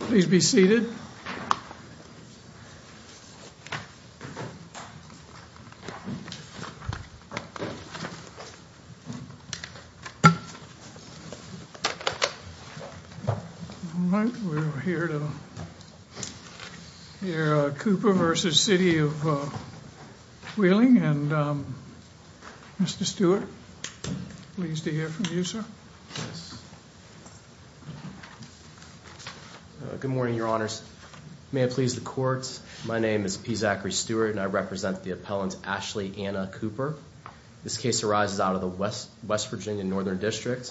Please be seated. We're here to hear Cooper v. City of Wheeling and Mr. Stewart. Pleased to hear from you, sir. Good morning, Your Honors. May it please the Court, my name is P. Zachary Stewart and I represent the appellant Ashley Anna Cooper. This case arises out of the West Virginia Northern District.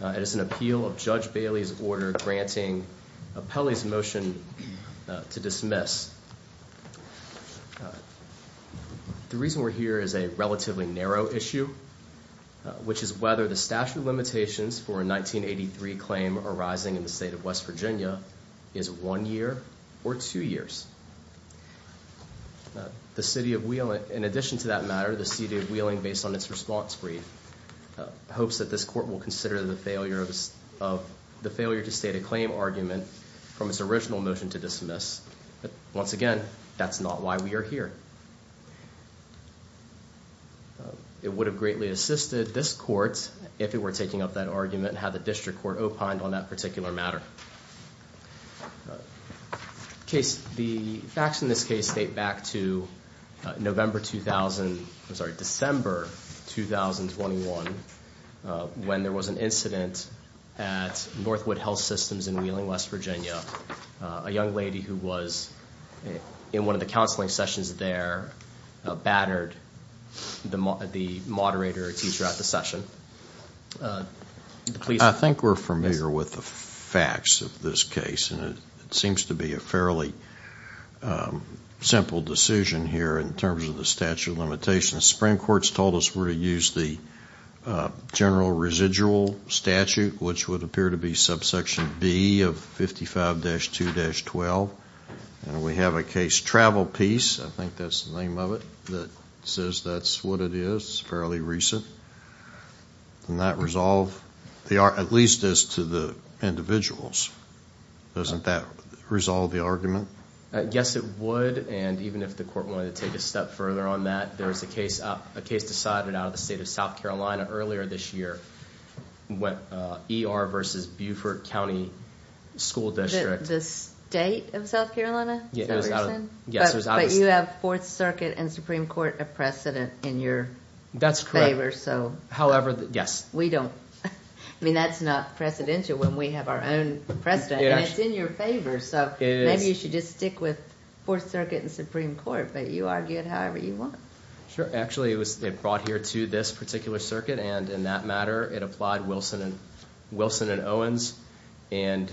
It is an appeal of Judge Bailey's order granting Appellee's motion to dismiss. The reason we're here is a relatively narrow issue, which is whether the statute of limitations for a 1983 claim arising in the state of West Virginia is one year or two years. The City of Wheeling, in addition to that matter, the City of Wheeling, based on its response brief, hopes that this Court will consider the failure to state a claim argument from its original motion to dismiss. Once again, that's not why we are here. It would have greatly assisted this Court if it were taking up that argument and had the District Court opined on that particular matter. The facts in this case date back to November 2000, I'm sorry, December 2021, when there was an incident at Northwood Health Systems in Wheeling, West Virginia. A young lady who was in one of the counseling sessions there battered the moderator or teacher at the session. I think we're familiar with the facts of this case and it seems to be a fairly simple decision here in terms of the statute of limitations. The Supreme Court's told us we're to use the general residual statute, which would appear to be subsection B of 55-2-12. We have a case travel piece, I think that's the name of it, that says that's what it is. It's fairly recent. Does that resolve, at least as to the individuals, doesn't that resolve the argument? Yes, it would, and even if the Court wanted to take a step further on that. There was a case decided out of the state of South Carolina earlier this year, ER versus Beaufort County School District. The state of South Carolina? Yes, it was out of the state. But you have Fourth Circuit and Supreme Court a precedent in your favor. That's correct. However, yes. I mean, that's not precedential when we have our own precedent. It's in your favor, so maybe you should just stick with Fourth Circuit and Supreme Court, but you argue it however you want. Actually, it brought here to this particular circuit, and in that matter, it applied Wilson and Owens and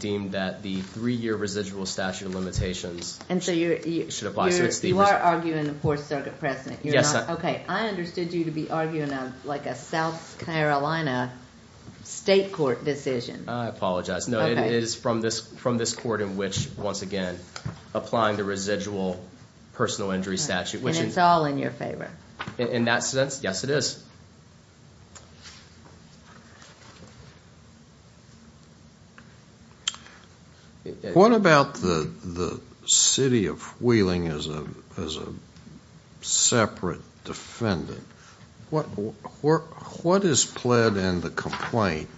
deemed that the three-year residual statute of limitations should apply. You are arguing the Fourth Circuit precedent. Yes. Okay, I understood you to be arguing like a South Carolina state court decision. I apologize. No, it is from this court in which, once again, applying the residual personal injury statute. And it's all in your favor. In that sense, yes, it is. What about the city of Wheeling as a separate defendant? What is pled in the complaint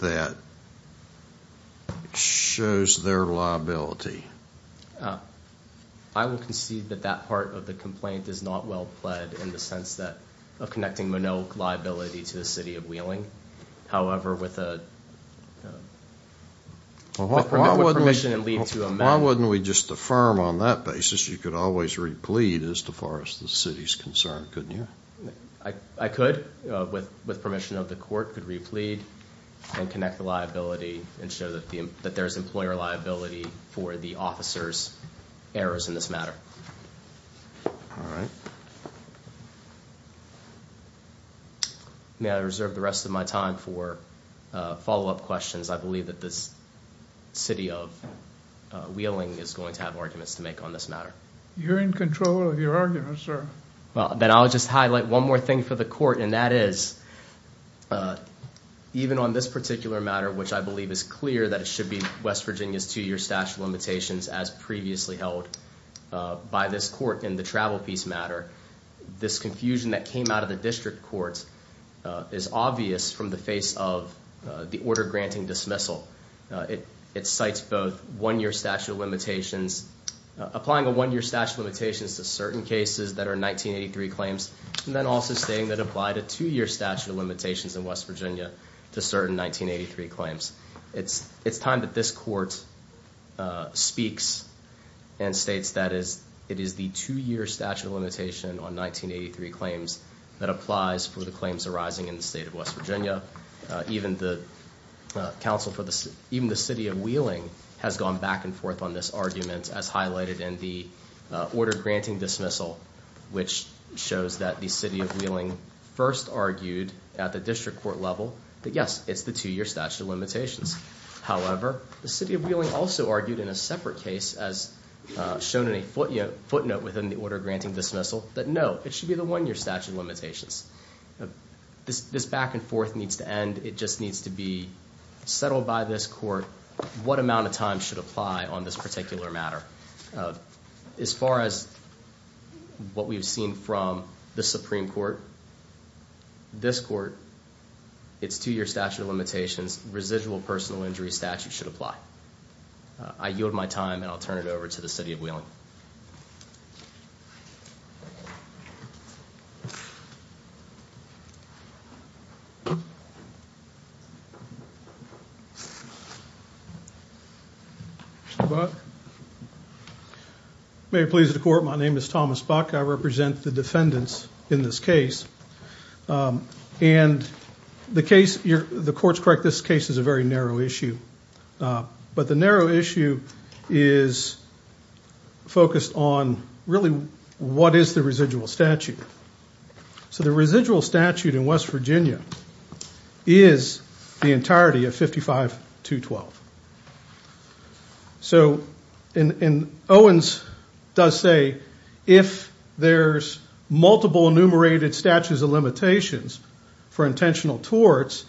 that shows their liability? I will concede that that part of the complaint is not well pled in the sense of connecting Manoak liability to the city of Wheeling. However, with permission and leave to amend. Why wouldn't we just affirm on that basis you could always replete as far as the city is concerned, couldn't you? I could, with permission of the court, could replete and connect the liability and show that there's employer liability for the officer's errors in this matter. All right. May I reserve the rest of my time for follow-up questions? I believe that the city of Wheeling is going to have arguments to make on this matter. You're in control of your arguments, sir. Then I'll just highlight one more thing for the court, and that is, even on this particular matter, which I believe is clear that it should be West Virginia's two-year statute of limitations, as previously held by this court in the travel piece matter, this confusion that came out of the district court is obvious from the face of the order granting dismissal. It cites both one-year statute of limitations. Applying a one-year statute of limitations to certain cases that are 1983 claims, and then also stating that it applied a two-year statute of limitations in West Virginia to certain 1983 claims. It's time that this court speaks and states that it is the two-year statute of limitation on 1983 claims that applies for the claims arising in the state of West Virginia. Even the city of Wheeling has gone back and forth on this argument, as highlighted in the order granting dismissal, which shows that the city of Wheeling first argued at the district court level that, yes, it's the two-year statute of limitations. However, the city of Wheeling also argued in a separate case, as shown in a footnote within the order granting dismissal, that, no, it should be the one-year statute of limitations. This back and forth needs to end. It just needs to be settled by this court what amount of time should apply on this particular matter. As far as what we've seen from the Supreme Court, this court, its two-year statute of limitations, residual personal injury statute should apply. I yield my time, and I'll turn it over to the city of Wheeling. Mr. Buck? May it please the court, my name is Thomas Buck. I represent the defendants in this case. And the case, the court's correct, this case is a very narrow issue. But the narrow issue is focused on, really, what is the residual statute? So the residual statute in West Virginia is the entirety of 55-212. So, and Owens does say, if there's multiple enumerated statutes of limitations for intentional torts,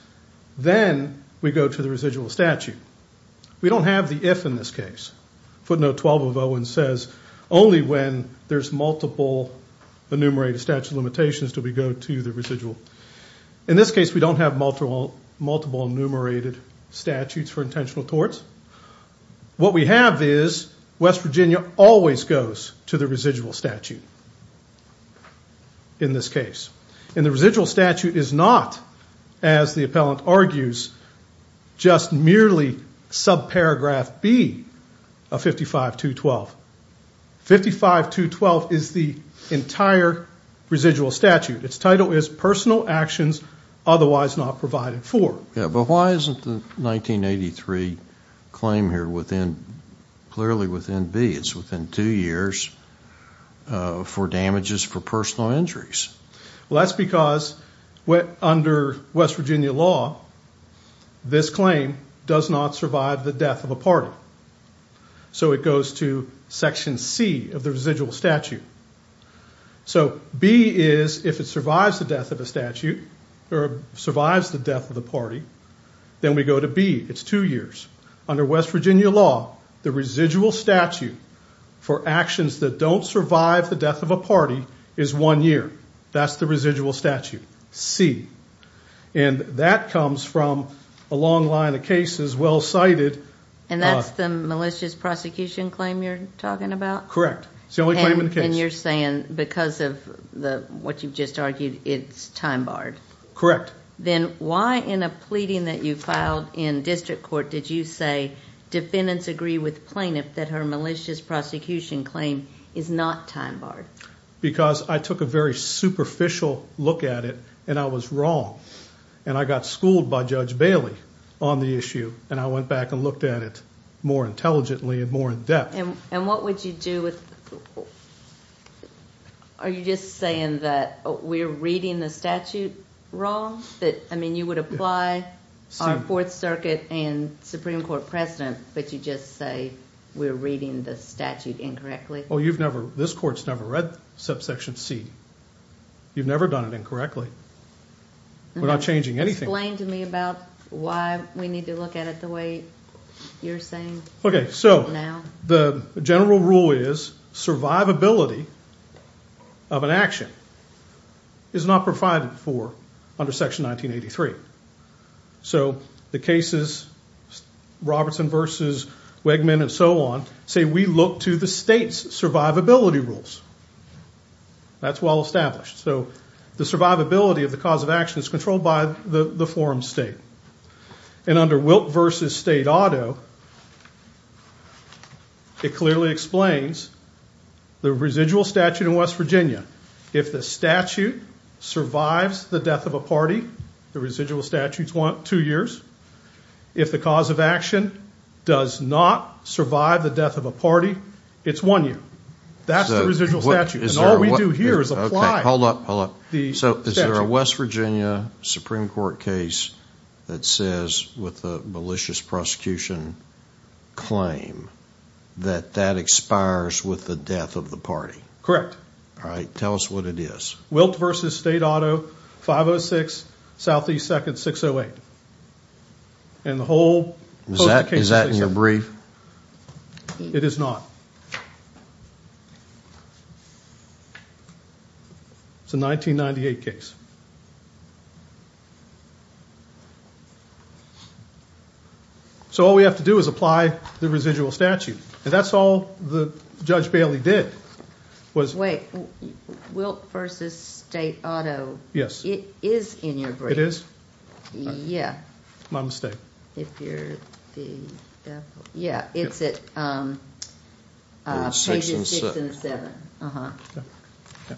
then we go to the residual statute. We don't have the if in this case. Footnote 12 of Owens says, only when there's multiple enumerated statute of limitations do we go to the residual. In this case, we don't have multiple enumerated statutes for intentional torts. What we have is, West Virginia always goes to the residual statute in this case. And the residual statute is not, as the appellant argues, just merely subparagraph B of 55-212. 55-212 is the entire residual statute. Its title is personal actions otherwise not provided for. But why isn't the 1983 claim here clearly within B? It's within two years for damages for personal injuries. Well, that's because under West Virginia law, this claim does not survive the death of a party. So it goes to section C of the residual statute. So B is, if it survives the death of a statute, or survives the death of the party, then we go to B. It's two years. Under West Virginia law, the residual statute for actions that don't survive the death of a party is one year. That's the residual statute, C. And that comes from a long line of cases well cited. And that's the malicious prosecution claim you're talking about? Correct. It's the only claim in the case. And you're saying because of what you've just argued, it's time barred? Correct. Then why in a pleading that you filed in district court did you say defendants agree with plaintiff that her malicious prosecution claim is not time barred? Because I took a very superficial look at it, and I was wrong. And I got schooled by Judge Bailey on the issue, and I went back and looked at it more intelligently and more in depth. And what would you do with, are you just saying that we're reading the statute wrong? I mean, you would apply our Fourth Circuit and Supreme Court precedent, but you just say we're reading the statute incorrectly? Well, you've never, this court's never read subsection C. You've never done it incorrectly. We're not changing anything. Explain to me about why we need to look at it the way you're saying now. Okay, so the general rule is survivability of an action is not provided for under Section 1983. So the cases, Robertson v. Wegman and so on, say we look to the state's survivability rules. That's well established. So the survivability of the cause of action is controlled by the forum state. And under Wilt v. State Auto, it clearly explains the residual statute in West Virginia. If the statute survives the death of a party, the residual statute's two years. If the cause of action does not survive the death of a party, it's one year. That's the residual statute, and all we do here is apply the statute. Is there a West Virginia Supreme Court case that says, with the malicious prosecution claim, that that expires with the death of the party? Correct. All right, tell us what it is. Wilt v. State Auto, 506 S. 2nd, 608. And the whole case is based on that. Is that in your brief? It is not. It's a 1998 case. So all we have to do is apply the residual statute. And that's all that Judge Bailey did. Wait, Wilt v. State Auto, it is in your brief. It is? Yeah. My mistake. Yeah, it's at pages 6 and 7. Okay.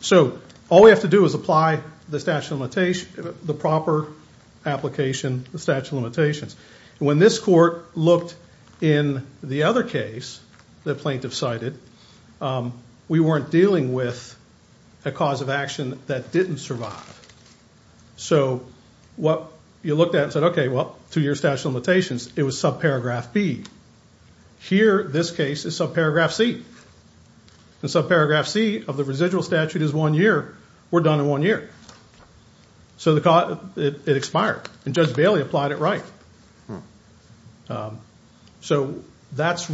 So all we have to do is apply the statute of limitations, the proper application, the statute of limitations. And when this court looked in the other case the plaintiff cited, we weren't dealing with a cause of action that didn't survive. So what you looked at and said, okay, well, two-year statute of limitations, it was subparagraph B. Here, this case is subparagraph C. And subparagraph C of the residual statute is one year. We're done in one year. So it expired. And Judge Bailey applied it right. So that's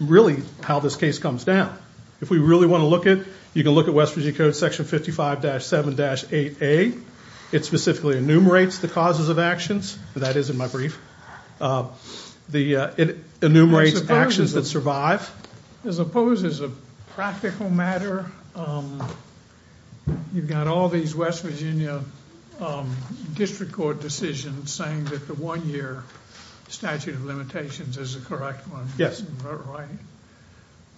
really how this case comes down. If we really want to look at it, you can look at West Virginia Code Section 55-7-8A. It specifically enumerates the causes of actions. That is in my brief. It enumerates actions that survive. I suppose as a practical matter, you've got all these West Virginia district court decisions saying that the one-year statute of limitations is the correct one. Yes. Right.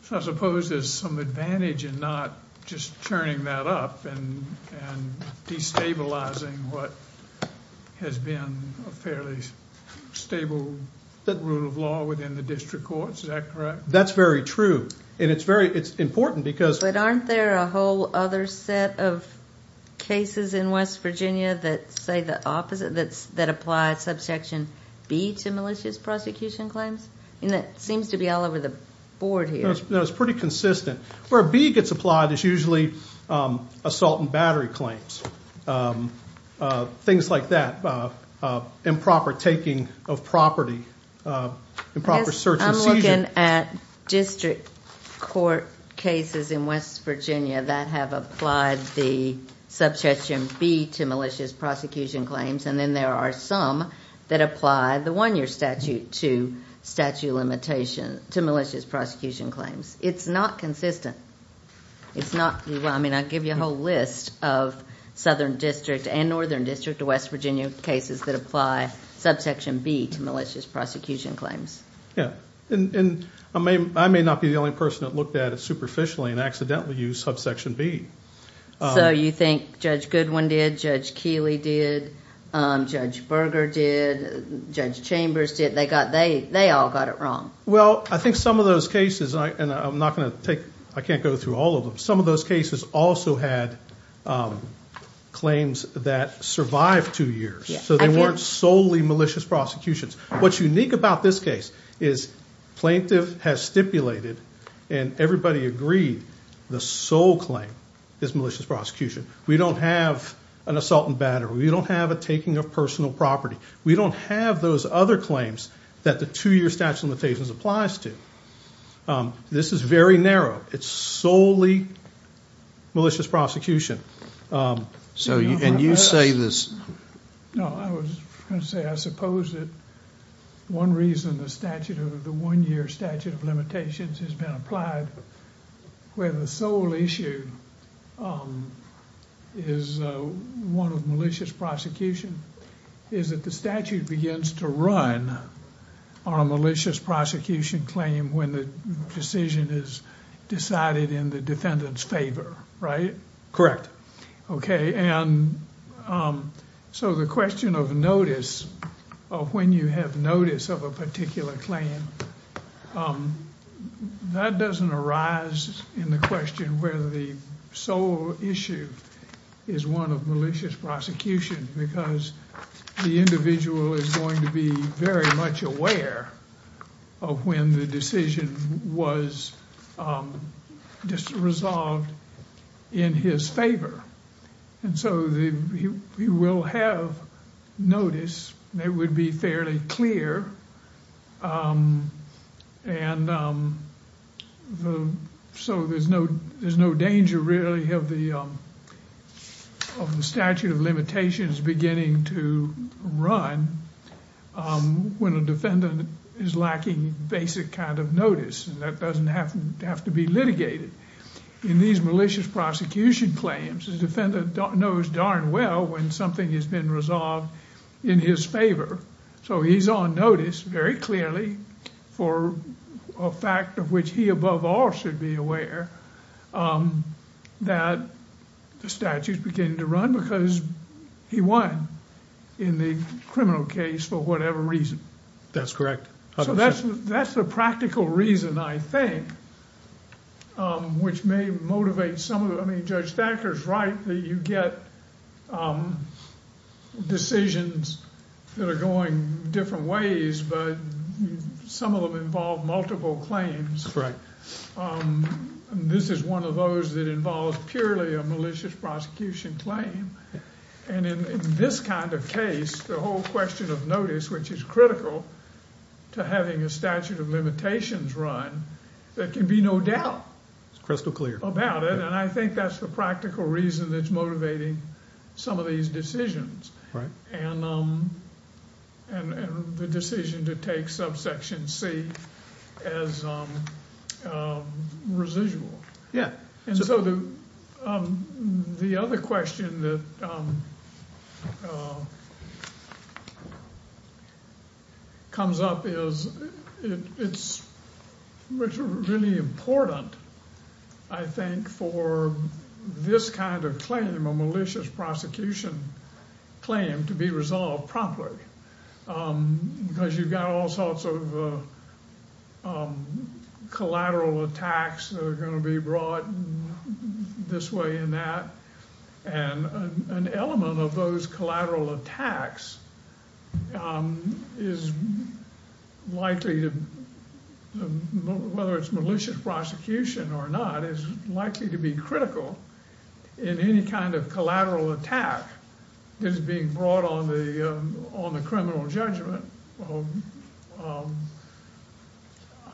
So I suppose there's some advantage in not just turning that up and destabilizing what has been a fairly stable rule of law within the district courts. Is that correct? That's very true. And it's important because But aren't there a whole other set of cases in West Virginia that say the opposite, that apply subsection B to malicious prosecution claims? It seems to be all over the board here. No, it's pretty consistent. Where B gets applied is usually assault and battery claims, things like that, improper taking of property, improper search and seizure. I'm looking at district court cases in West Virginia that have applied the subsection B to malicious prosecution claims, and then there are some that apply the one-year statute to statute limitation, to malicious prosecution claims. It's not consistent. It's not. I mean, I give you a whole list of Southern District and Northern District of West Virginia cases that apply subsection B to malicious prosecution claims. Yeah. And I may not be the only person that looked at it superficially and accidentally used subsection B. So you think Judge Goodwin did? Judge Keeley did? Judge Berger did? Judge Chambers did? They all got it wrong. Well, I think some of those cases, and I'm not going to take – I can't go through all of them. Some of those cases also had claims that survived two years, so they weren't solely malicious prosecutions. What's unique about this case is plaintiff has stipulated, and everybody agreed, the sole claim is malicious prosecution. We don't have an assault and battery. We don't have a taking of personal property. We don't have those other claims that the two-year statute of limitations applies to. This is very narrow. It's solely malicious prosecution. And you say this – No, I was going to say I suppose that one reason the one-year statute of limitations has been applied where the sole issue is one of malicious prosecution is that the statute begins to run on a malicious prosecution claim when the decision is decided in the defendant's favor, right? Correct. Okay, and so the question of notice, of when you have notice of a particular claim, that doesn't arise in the question where the sole issue is one of malicious prosecution because the individual is going to be very much aware of when the decision was resolved in his favor. And so he will have notice. It would be fairly clear. And so there's no danger really of the statute of limitations beginning to run when a defendant is lacking basic kind of notice. And that doesn't have to be litigated. In these malicious prosecution claims, the defendant knows darn well when something has been resolved in his favor. So he's on notice very clearly for a fact of which he above all should be aware that the statute is beginning to run because he won in the criminal case for whatever reason. That's correct. So that's the practical reason, I think, which may motivate some of them. I mean, Judge Stanker's right that you get decisions that are going different ways, but some of them involve multiple claims. This is one of those that involves purely a malicious prosecution claim. And in this kind of case, the whole question of notice, which is critical to having a statute of limitations run, there can be no doubt about it. And I think that's the practical reason that's motivating some of these decisions and the decision to take subsection C as residual. Yeah. And so the other question that comes up is it's really important, I think, for this kind of claim, a malicious prosecution claim, to be resolved promptly. Because you've got all sorts of collateral attacks that are going to be brought this way and that. And an element of those collateral attacks is likely to, whether it's malicious prosecution or not, is likely to be critical in any kind of collateral attack that is being brought on the criminal judgment.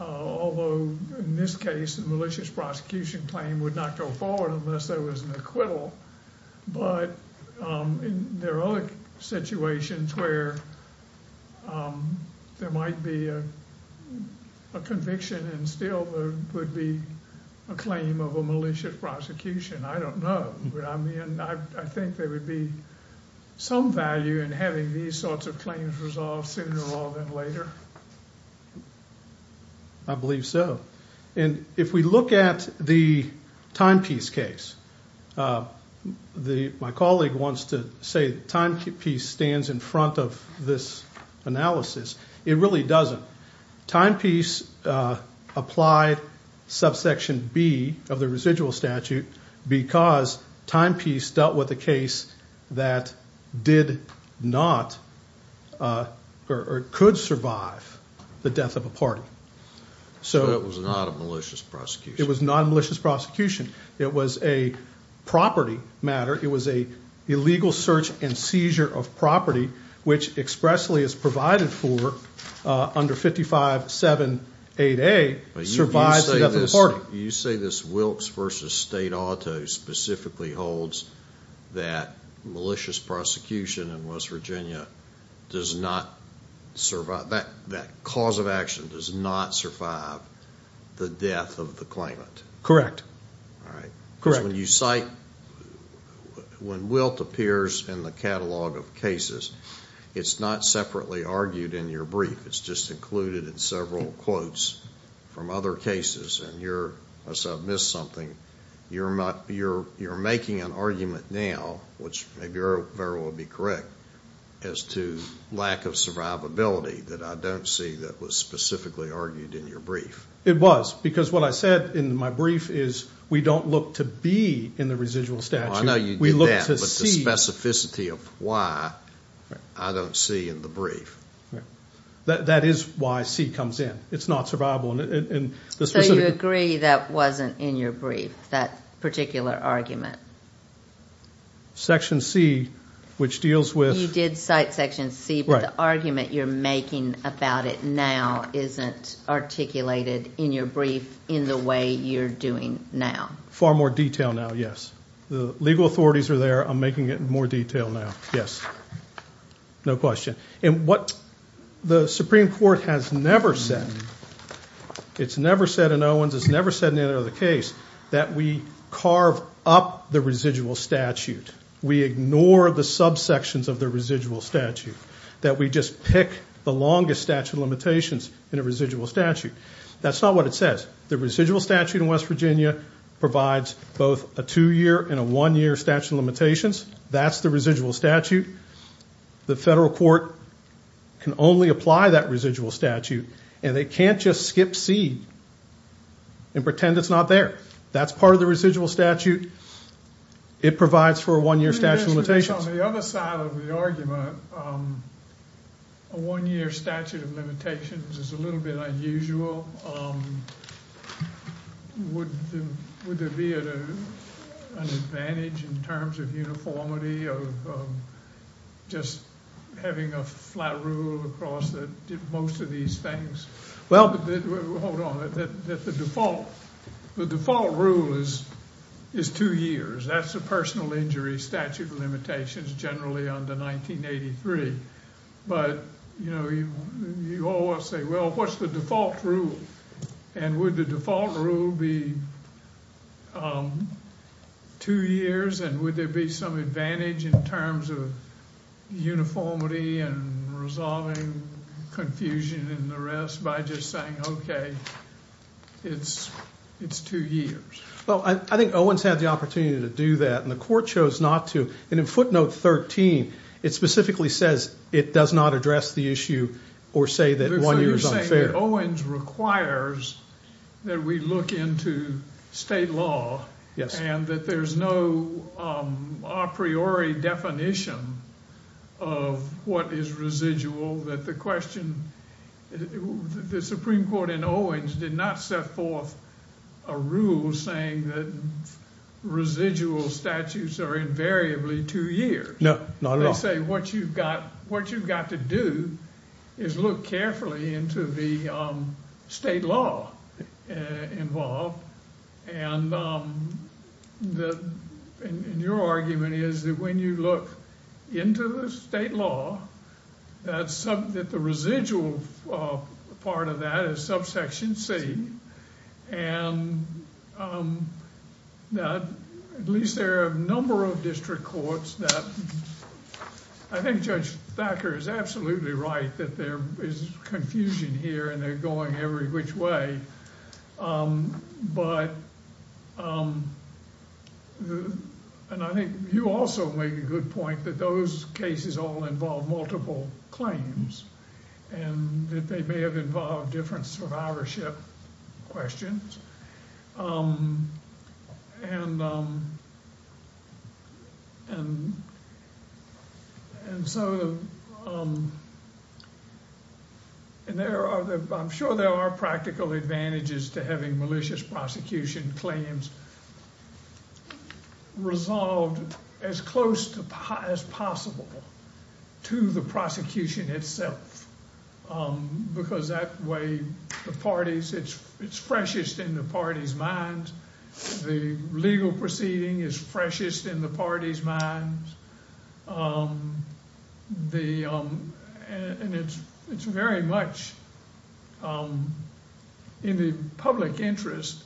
Although, in this case, a malicious prosecution claim would not go forward unless there was an acquittal. But there are other situations where there might be a conviction and still there would be a claim of a malicious prosecution. I don't know. I mean, I think there would be some value in having these sorts of claims resolved sooner rather than later. I believe so. And if we look at the timepiece case, my colleague wants to say the timepiece stands in front of this analysis. It really doesn't. Timepiece applied subsection B of the residual statute because timepiece dealt with a case that did not or could survive the death of a party. So it was not a malicious prosecution. It was not a malicious prosecution. It was a property matter. It was an illegal search and seizure of property, which expressly is provided for under 55-7-8A, survives the death of a party. You say this Wilkes v. State Auto specifically holds that malicious prosecution in West Virginia does not survive, that cause of action does not survive the death of the claimant. Correct. All right. Correct. Because when you cite, when Wilt appears in the catalog of cases, it's not separately argued in your brief. It's just included in several quotes from other cases. And you're, unless I've missed something, you're making an argument now, which maybe Erroll will be correct, as to lack of survivability that I don't see that was specifically argued in your brief. It was. Because what I said in my brief is we don't look to be in the residual statute. We look to see. I know you did that, but the specificity of why, I don't see in the brief. That is why C comes in. It's not survivable. So you agree that wasn't in your brief, that particular argument? Section C, which deals with. You did cite Section C, but the argument you're making about it now isn't articulated in your brief in the way you're doing now. Far more detail now, yes. The legal authorities are there. I'm making it in more detail now. Yes. No question. And what the Supreme Court has never said, it's never said in Owens, it's never said in any other case, that we carve up the residual statute. We ignore the subsections of the residual statute, that we just pick the longest statute of limitations in a residual statute. That's not what it says. The residual statute in West Virginia provides both a two-year and a one-year statute of limitations. That's the residual statute. The federal court can only apply that residual statute, and they can't just skip C and pretend it's not there. That's part of the residual statute. It provides for a one-year statute of limitations. On the other side of the argument, a one-year statute of limitations is a little bit unusual. Well, would there be an advantage in terms of uniformity of just having a flat rule across most of these things? Well, hold on. The default rule is two years. That's a personal injury statute of limitations generally under 1983. But, you know, you always say, well, what's the default rule? And would the default rule be two years, and would there be some advantage in terms of uniformity and resolving confusion and the rest by just saying, okay, it's two years? Well, I think Owens had the opportunity to do that, and the court chose not to. And in footnote 13, it specifically says it does not address the issue or say that one year is unfair. So you're saying that Owens requires that we look into state law and that there's no a priori definition of what is residual, that the question, the Supreme Court in Owens did not set forth a rule saying that residual statutes are invariably two years. No, not at all. They say what you've got to do is look carefully into the state law involved. And your argument is that when you look into the state law, that the residual part of that is subsection C. And that at least there are a number of district courts that I think Judge Thacker is absolutely right that there is confusion here, and they're going every which way. But, and I think you also make a good point that those cases all involve multiple claims and that they may have involved different survivorship questions. And so, and there are, I'm sure there are practical advantages to having malicious prosecution claims resolved as close as possible to the prosecution itself. Because that way the parties, it's freshest in the party's minds. The legal proceeding is freshest in the party's minds. And it's very much in the public interest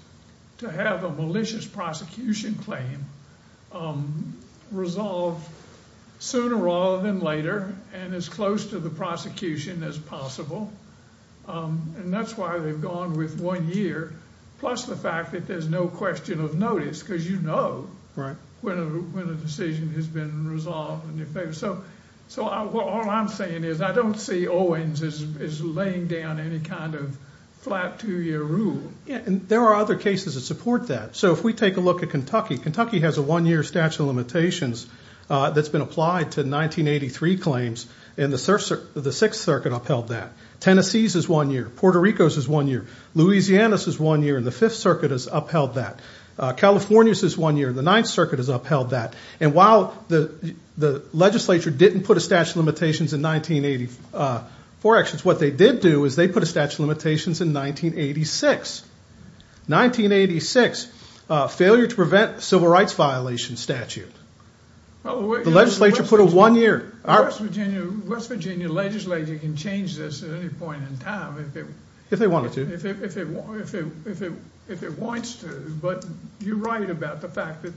to have a malicious prosecution claim resolved sooner rather than later and as close to the prosecution as possible. And that's why they've gone with one year, plus the fact that there's no question of notice, because you know when a decision has been resolved. So all I'm saying is I don't see Owens as laying down any kind of flat two-year rule. And there are other cases that support that. So if we take a look at Kentucky, Kentucky has a one-year statute of limitations that's been applied to 1983 claims. And the Sixth Circuit upheld that. Tennessee's is one year. Puerto Rico's is one year. Louisiana's is one year. And the Fifth Circuit has upheld that. California's is one year. The Ninth Circuit has upheld that. And while the legislature didn't put a statute of limitations in 1984 actions, what they did do is they put a statute of limitations in 1986. 1986, failure to prevent civil rights violation statute. The legislature put a one-year. The West Virginia legislature can change this at any point in time. If they wanted to. If it wants to. But you're right about the fact that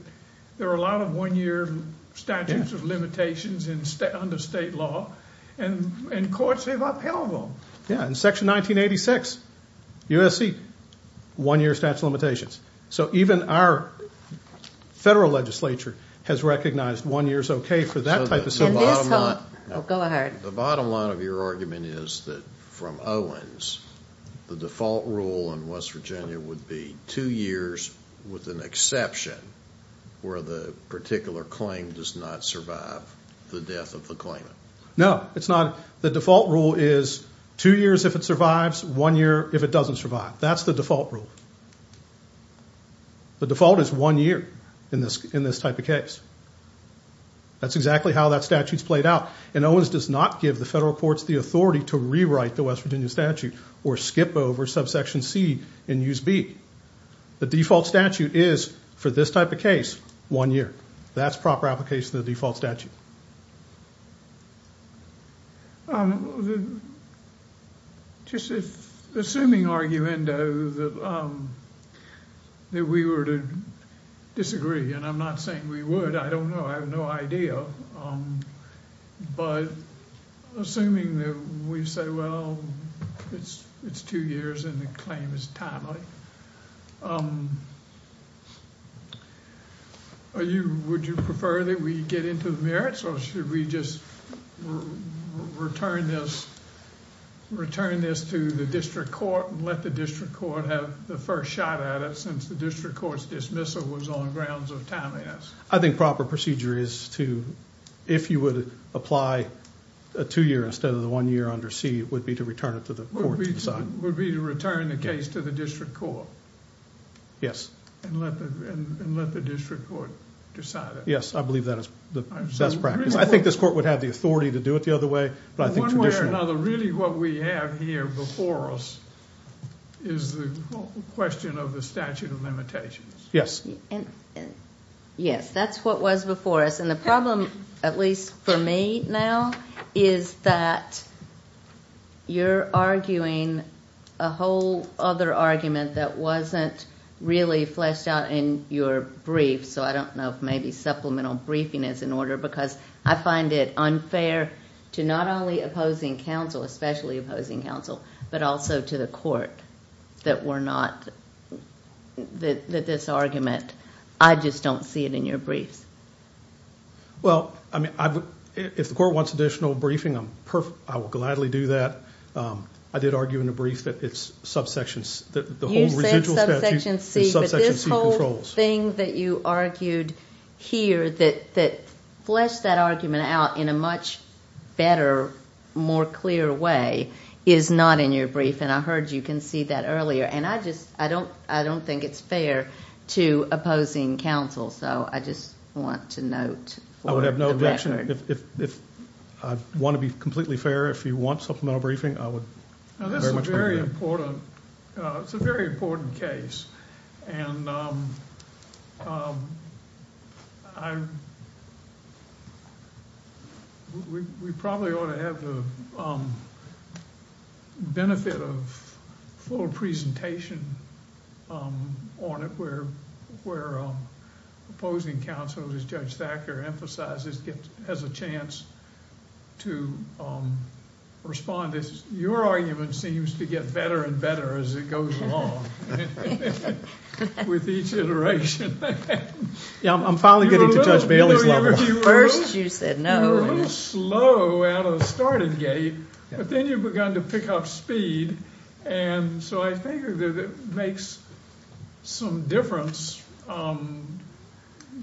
there are a lot of one-year statutes of limitations under state law. And courts have upheld them. Yeah, in Section 1986, USC, one-year statute of limitations. So even our federal legislature has recognized one year is okay for that type of situation. Go ahead. The bottom line of your argument is that from Owens, the default rule in West Virginia would be two years with an exception where the particular claim does not survive the death of the claimant. No, it's not. The default rule is two years if it survives, one year if it doesn't survive. That's the default rule. The default is one year in this type of case. That's exactly how that statute's played out. And Owens does not give the federal courts the authority to rewrite the West Virginia statute or skip over subsection C and use B. The default statute is, for this type of case, one year. That's proper application of the default statute. Just assuming, arguendo, that we were to disagree, and I'm not saying we would. I don't know. I have no idea. But assuming that we say, well, it's two years and the claim is timely, would you prefer that we get into the merits? Or should we just return this to the district court and let the district court have the first shot at it since the district court's dismissal was on grounds of timeliness? I think proper procedure is to, if you would apply a two year instead of the one year under C, it would be to return it to the court to decide. Would be to return the case to the district court? Yes. And let the district court decide it? Yes, I believe that is the best practice. I think this court would have the authority to do it the other way. But I think traditionally. One way or another, really what we have here before us is the question of the statute of limitations. Yes. Yes, that's what was before us. And the problem, at least for me now, is that you're arguing a whole other argument that wasn't really fleshed out in your brief. So I don't know if maybe supplemental briefing is in order because I find it unfair to not only opposing counsel, especially opposing counsel, but also to the court that we're not, that this argument, I just don't see it in your briefs. Well, I mean, if the court wants additional briefing, I will gladly do that. I did argue in a brief that it's subsections. You said subsection C, but this whole thing that you argued here that fleshed that argument out in a much better, more clear way is not in your brief, and I heard you concede that earlier. And I just, I don't think it's fair to opposing counsel, so I just want to note for the record. I would have no objection. If I want to be completely fair, if you want supplemental briefing, I would very much agree with that. Now, this is a very important, it's a very important case. And we probably ought to have the benefit of full presentation on it where opposing counsel, as Judge Thacker emphasizes, has a chance to respond. Your argument seems to get better and better as it goes along with each iteration. Yeah, I'm finally getting to Judge Bailey's level. First you said no. You're a little slow out of the starting gate, but then you've begun to pick up speed. And so I think that it makes some difference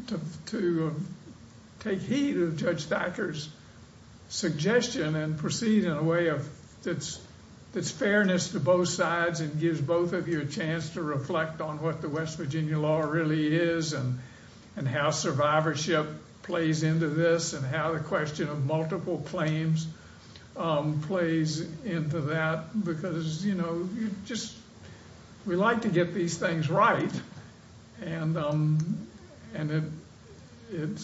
to take heed of Judge Thacker's suggestion and proceed in a way that's fairness to both sides and gives both of you a chance to reflect on what the West Virginia law really is and how survivorship plays into this and how the question of multiple claims plays into that. Because, you know, you just, we like to get these things right. And it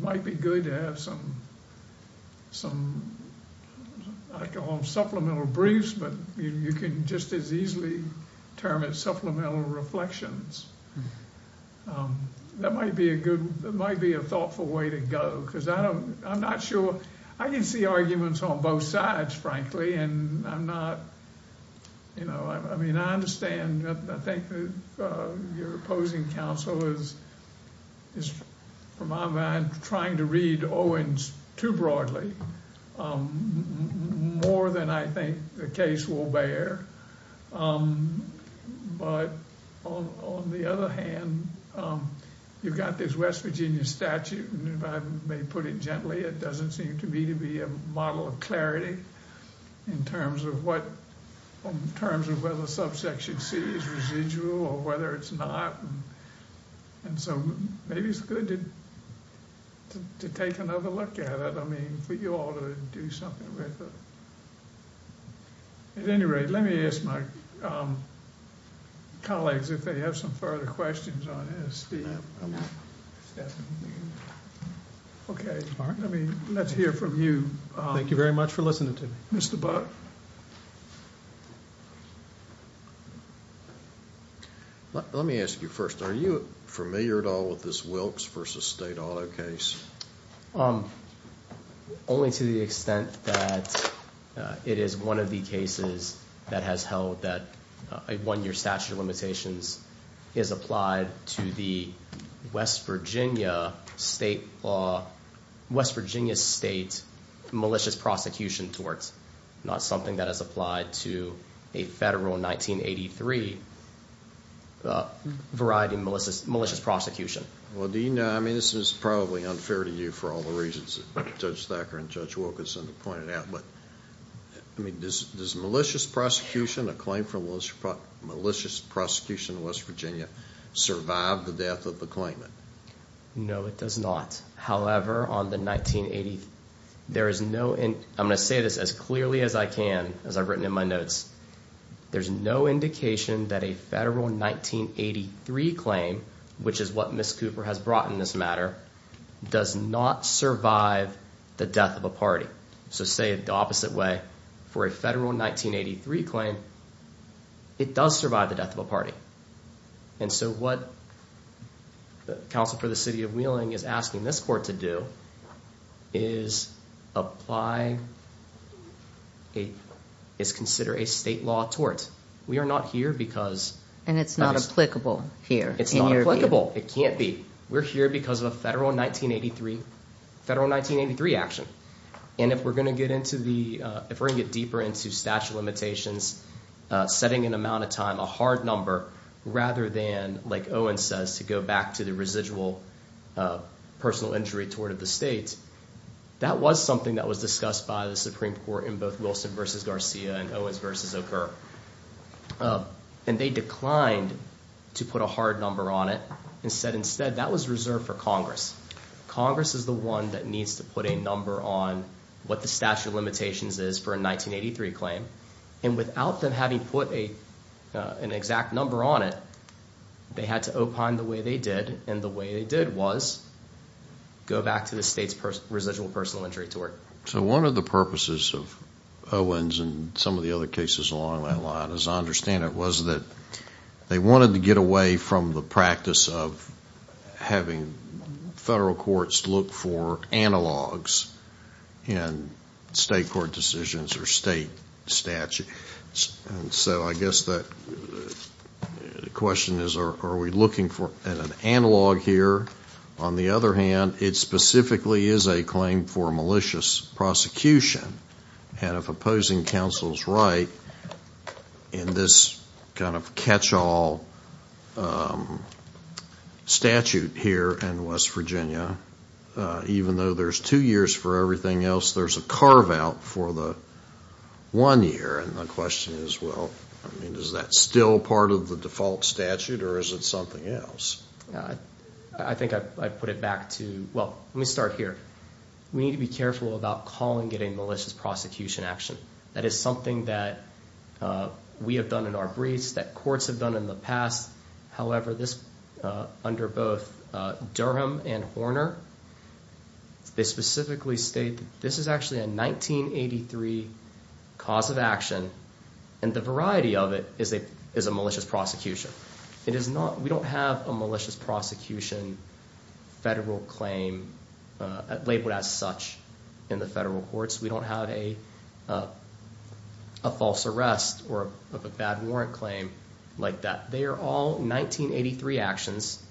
might be good to have some, I call them supplemental briefs, but you can just as easily term it supplemental reflections. That might be a good, that might be a thoughtful way to go. Because I don't, I'm not sure, I can see arguments on both sides, frankly, and I'm not, you know, I mean, I understand. I think your opposing counsel is, from my mind, trying to read Owens too broadly, more than I think the case will bear. But on the other hand, you've got this West Virginia statute, and if I may put it gently, it doesn't seem to me to be a model of clarity in terms of what, in terms of whether subsection C is residual or whether it's not. And so maybe it's good to take another look at it, I mean, for you all to do something with it. At any rate, let me ask my colleagues if they have some further questions on this. Okay, let's hear from you. Thank you very much for listening to me. Mr. Buck. Let me ask you first, are you familiar at all with this Wilkes v. State Auto case? Only to the extent that it is one of the cases that has held that a one-year statute of limitations is applied to the West Virginia State Law, West Virginia State Malicious Prosecution Torts, not something that is applied to a federal 1983 variety of malicious prosecution. Well, do you know, I mean, this is probably unfair to you for all the reasons that Judge Thacker and Judge Wilkinson have pointed out, but I mean, does malicious prosecution, a claim for malicious prosecution in West Virginia, survive the death of the claimant? No, it does not. However, on the 1980, there is no, and I'm going to say this as clearly as I can, as I've written in my notes, there's no indication that a federal 1983 claim, which is what Ms. Cooper has brought in this matter, does not survive the death of a party. So say it the opposite way, for a federal 1983 claim, it does survive the death of a party. And so what the Council for the City of Wheeling is asking this court to do is apply, is consider a state law tort. We are not here because... And it's not applicable here. It's not applicable. It can't be. We're here because of a federal 1983, federal 1983 action. And if we're going to get into the, if we're going to get deeper into statute of limitations, setting an amount of time, a hard number, rather than, like Owen says, to go back to the residual personal injury tort of the state, that was something that was discussed by the Supreme Court in both Wilson v. Garcia and Owens v. O'Kerr. And they declined to put a hard number on it and said instead that was reserved for Congress. Congress is the one that needs to put a number on what the statute of limitations is for a 1983 claim. And without them having put an exact number on it, they had to opine the way they did, and the way they did was go back to the state's residual personal injury tort. So one of the purposes of Owens and some of the other cases along that line, as I understand it, was that they wanted to get away from the practice of having federal courts look for analogs in state court decisions or state statutes. And so I guess the question is are we looking for an analog here? On the other hand, it specifically is a claim for malicious prosecution. And if opposing counsel is right, in this kind of catch-all statute here in West Virginia, even though there's two years for everything else, there's a carve-out for the one year. And the question is, well, I mean, is that still part of the default statute or is it something else? I think I'd put it back to, well, let me start here. We need to be careful about calling it a malicious prosecution action. That is something that we have done in our briefs, that courts have done in the past. However, under both Durham and Horner, they specifically state that this is actually a 1983 cause of action, and the variety of it is a malicious prosecution. We don't have a malicious prosecution federal claim labeled as such in the federal courts. We don't have a false arrest or a bad warrant claim like that. They are all 1983 actions,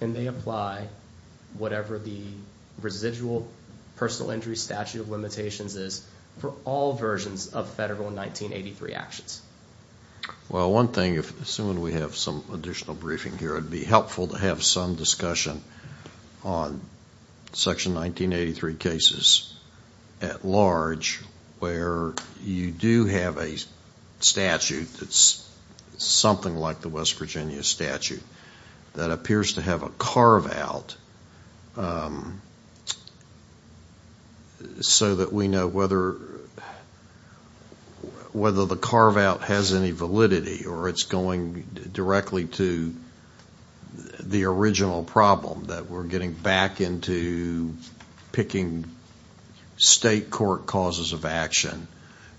and they apply whatever the residual personal injury statute of limitations is for all versions of federal 1983 actions. Well, one thing, assuming we have some additional briefing here, it would be helpful to have some discussion on Section 1983 cases at large where you do have a statute that's something like the West Virginia statute that appears to have a carve-out so that we know whether the carve-out has any validity or it's going directly to the original problem, that we're getting back into picking state court causes of action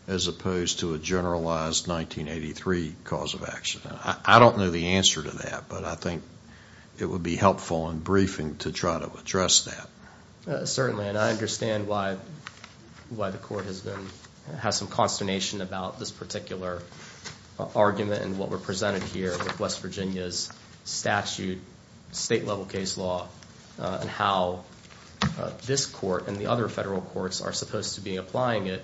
as opposed to a generalized 1983 cause of action. I don't know the answer to that, but I think it would be helpful in briefing to try to address that. Certainly, and I understand why the court has some consternation about this particular argument and what we're presented here with West Virginia's statute, state-level case law, and how this court and the other federal courts are supposed to be applying it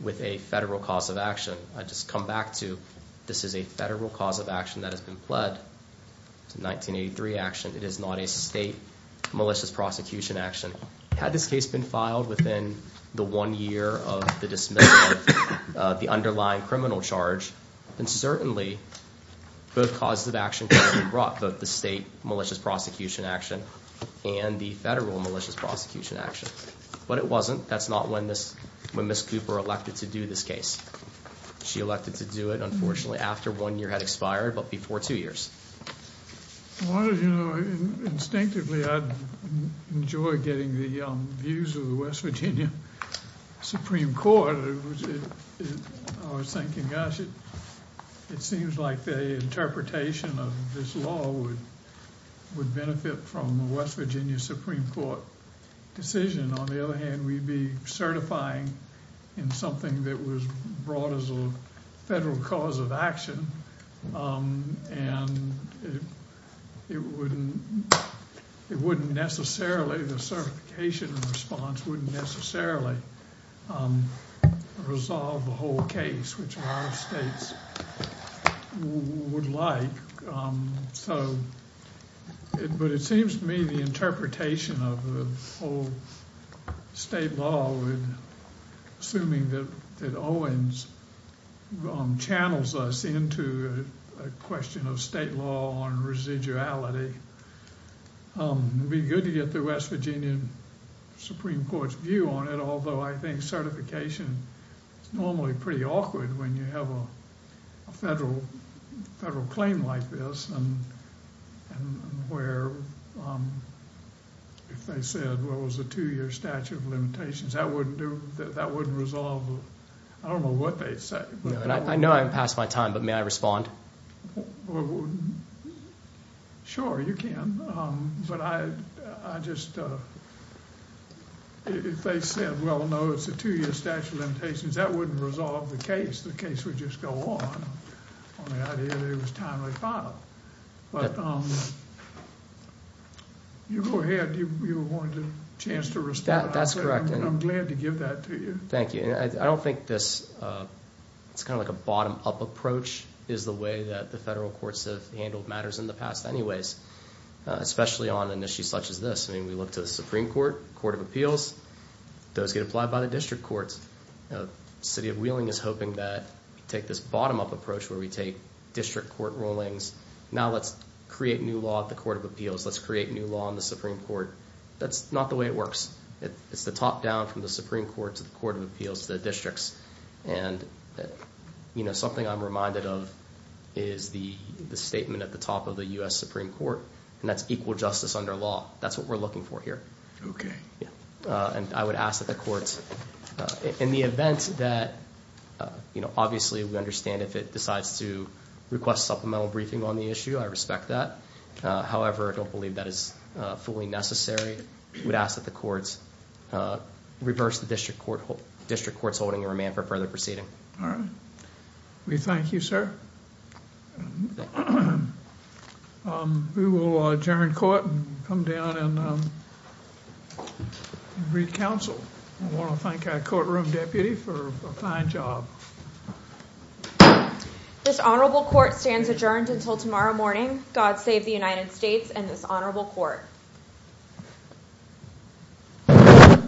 with a federal cause of action. I just come back to this is a federal cause of action that has been pled, it's a 1983 action, it is not a state malicious prosecution action. Had this case been filed within the one year of the dismissal of the underlying criminal charge, then certainly both causes of action could have been brought, both the state malicious prosecution action and the federal malicious prosecution action. But it wasn't. That's not when Ms. Cooper elected to do this case. She elected to do it, unfortunately, after one year had expired, but before two years. Instinctively, I enjoy getting the views of the West Virginia Supreme Court. I was thinking, gosh, it seems like the interpretation of this law would benefit from a West Virginia Supreme Court decision. On the other hand, we'd be certifying in something that was brought as a federal cause of action, and it wouldn't necessarily, the certification response wouldn't necessarily resolve the whole case, which a lot of states would like. But it seems to me the interpretation of the whole state law, assuming that Owens channels us into a question of state law on residuality, it would be good to get the West Virginia Supreme Court's view on it, although I think certification is normally pretty awkward when you have a federal claim like this, and where if they said, well, it was a two-year statute of limitations, that wouldn't resolve, I don't know what they'd say. I know I haven't passed my time, but may I respond? Sure, you can. But I just, if they said, well, no, it's a two-year statute of limitations, that wouldn't resolve the case. The case would just go on on the idea that it was a timely file. But you go ahead. You wanted a chance to respond. That's correct. I'm glad to give that to you. Thank you. I don't think this, it's kind of like a bottom-up approach, is the way that the federal courts have handled matters in the past anyways, especially on an issue such as this. I mean, we look to the Supreme Court, Court of Appeals. Those get applied by the district courts. The city of Wheeling is hoping that we take this bottom-up approach where we take district court rulings. Now let's create new law at the Court of Appeals. Let's create new law in the Supreme Court. That's not the way it works. It's the top down from the Supreme Court to the Court of Appeals, the districts. And, you know, something I'm reminded of is the statement at the top of the U.S. Supreme Court, and that's equal justice under law. That's what we're looking for here. Okay. Yeah. And I would ask that the courts, in the event that, you know, obviously we understand if it decides to request supplemental briefing on the issue, I respect that. However, I don't believe that is fully necessary. I would ask that the courts reverse the district courts' holding and remand for further proceeding. All right. We thank you, sir. We will adjourn court and come down and read counsel. I want to thank our courtroom deputy for a fine job. This honorable court stands adjourned until tomorrow morning. God save the United States and this honorable court.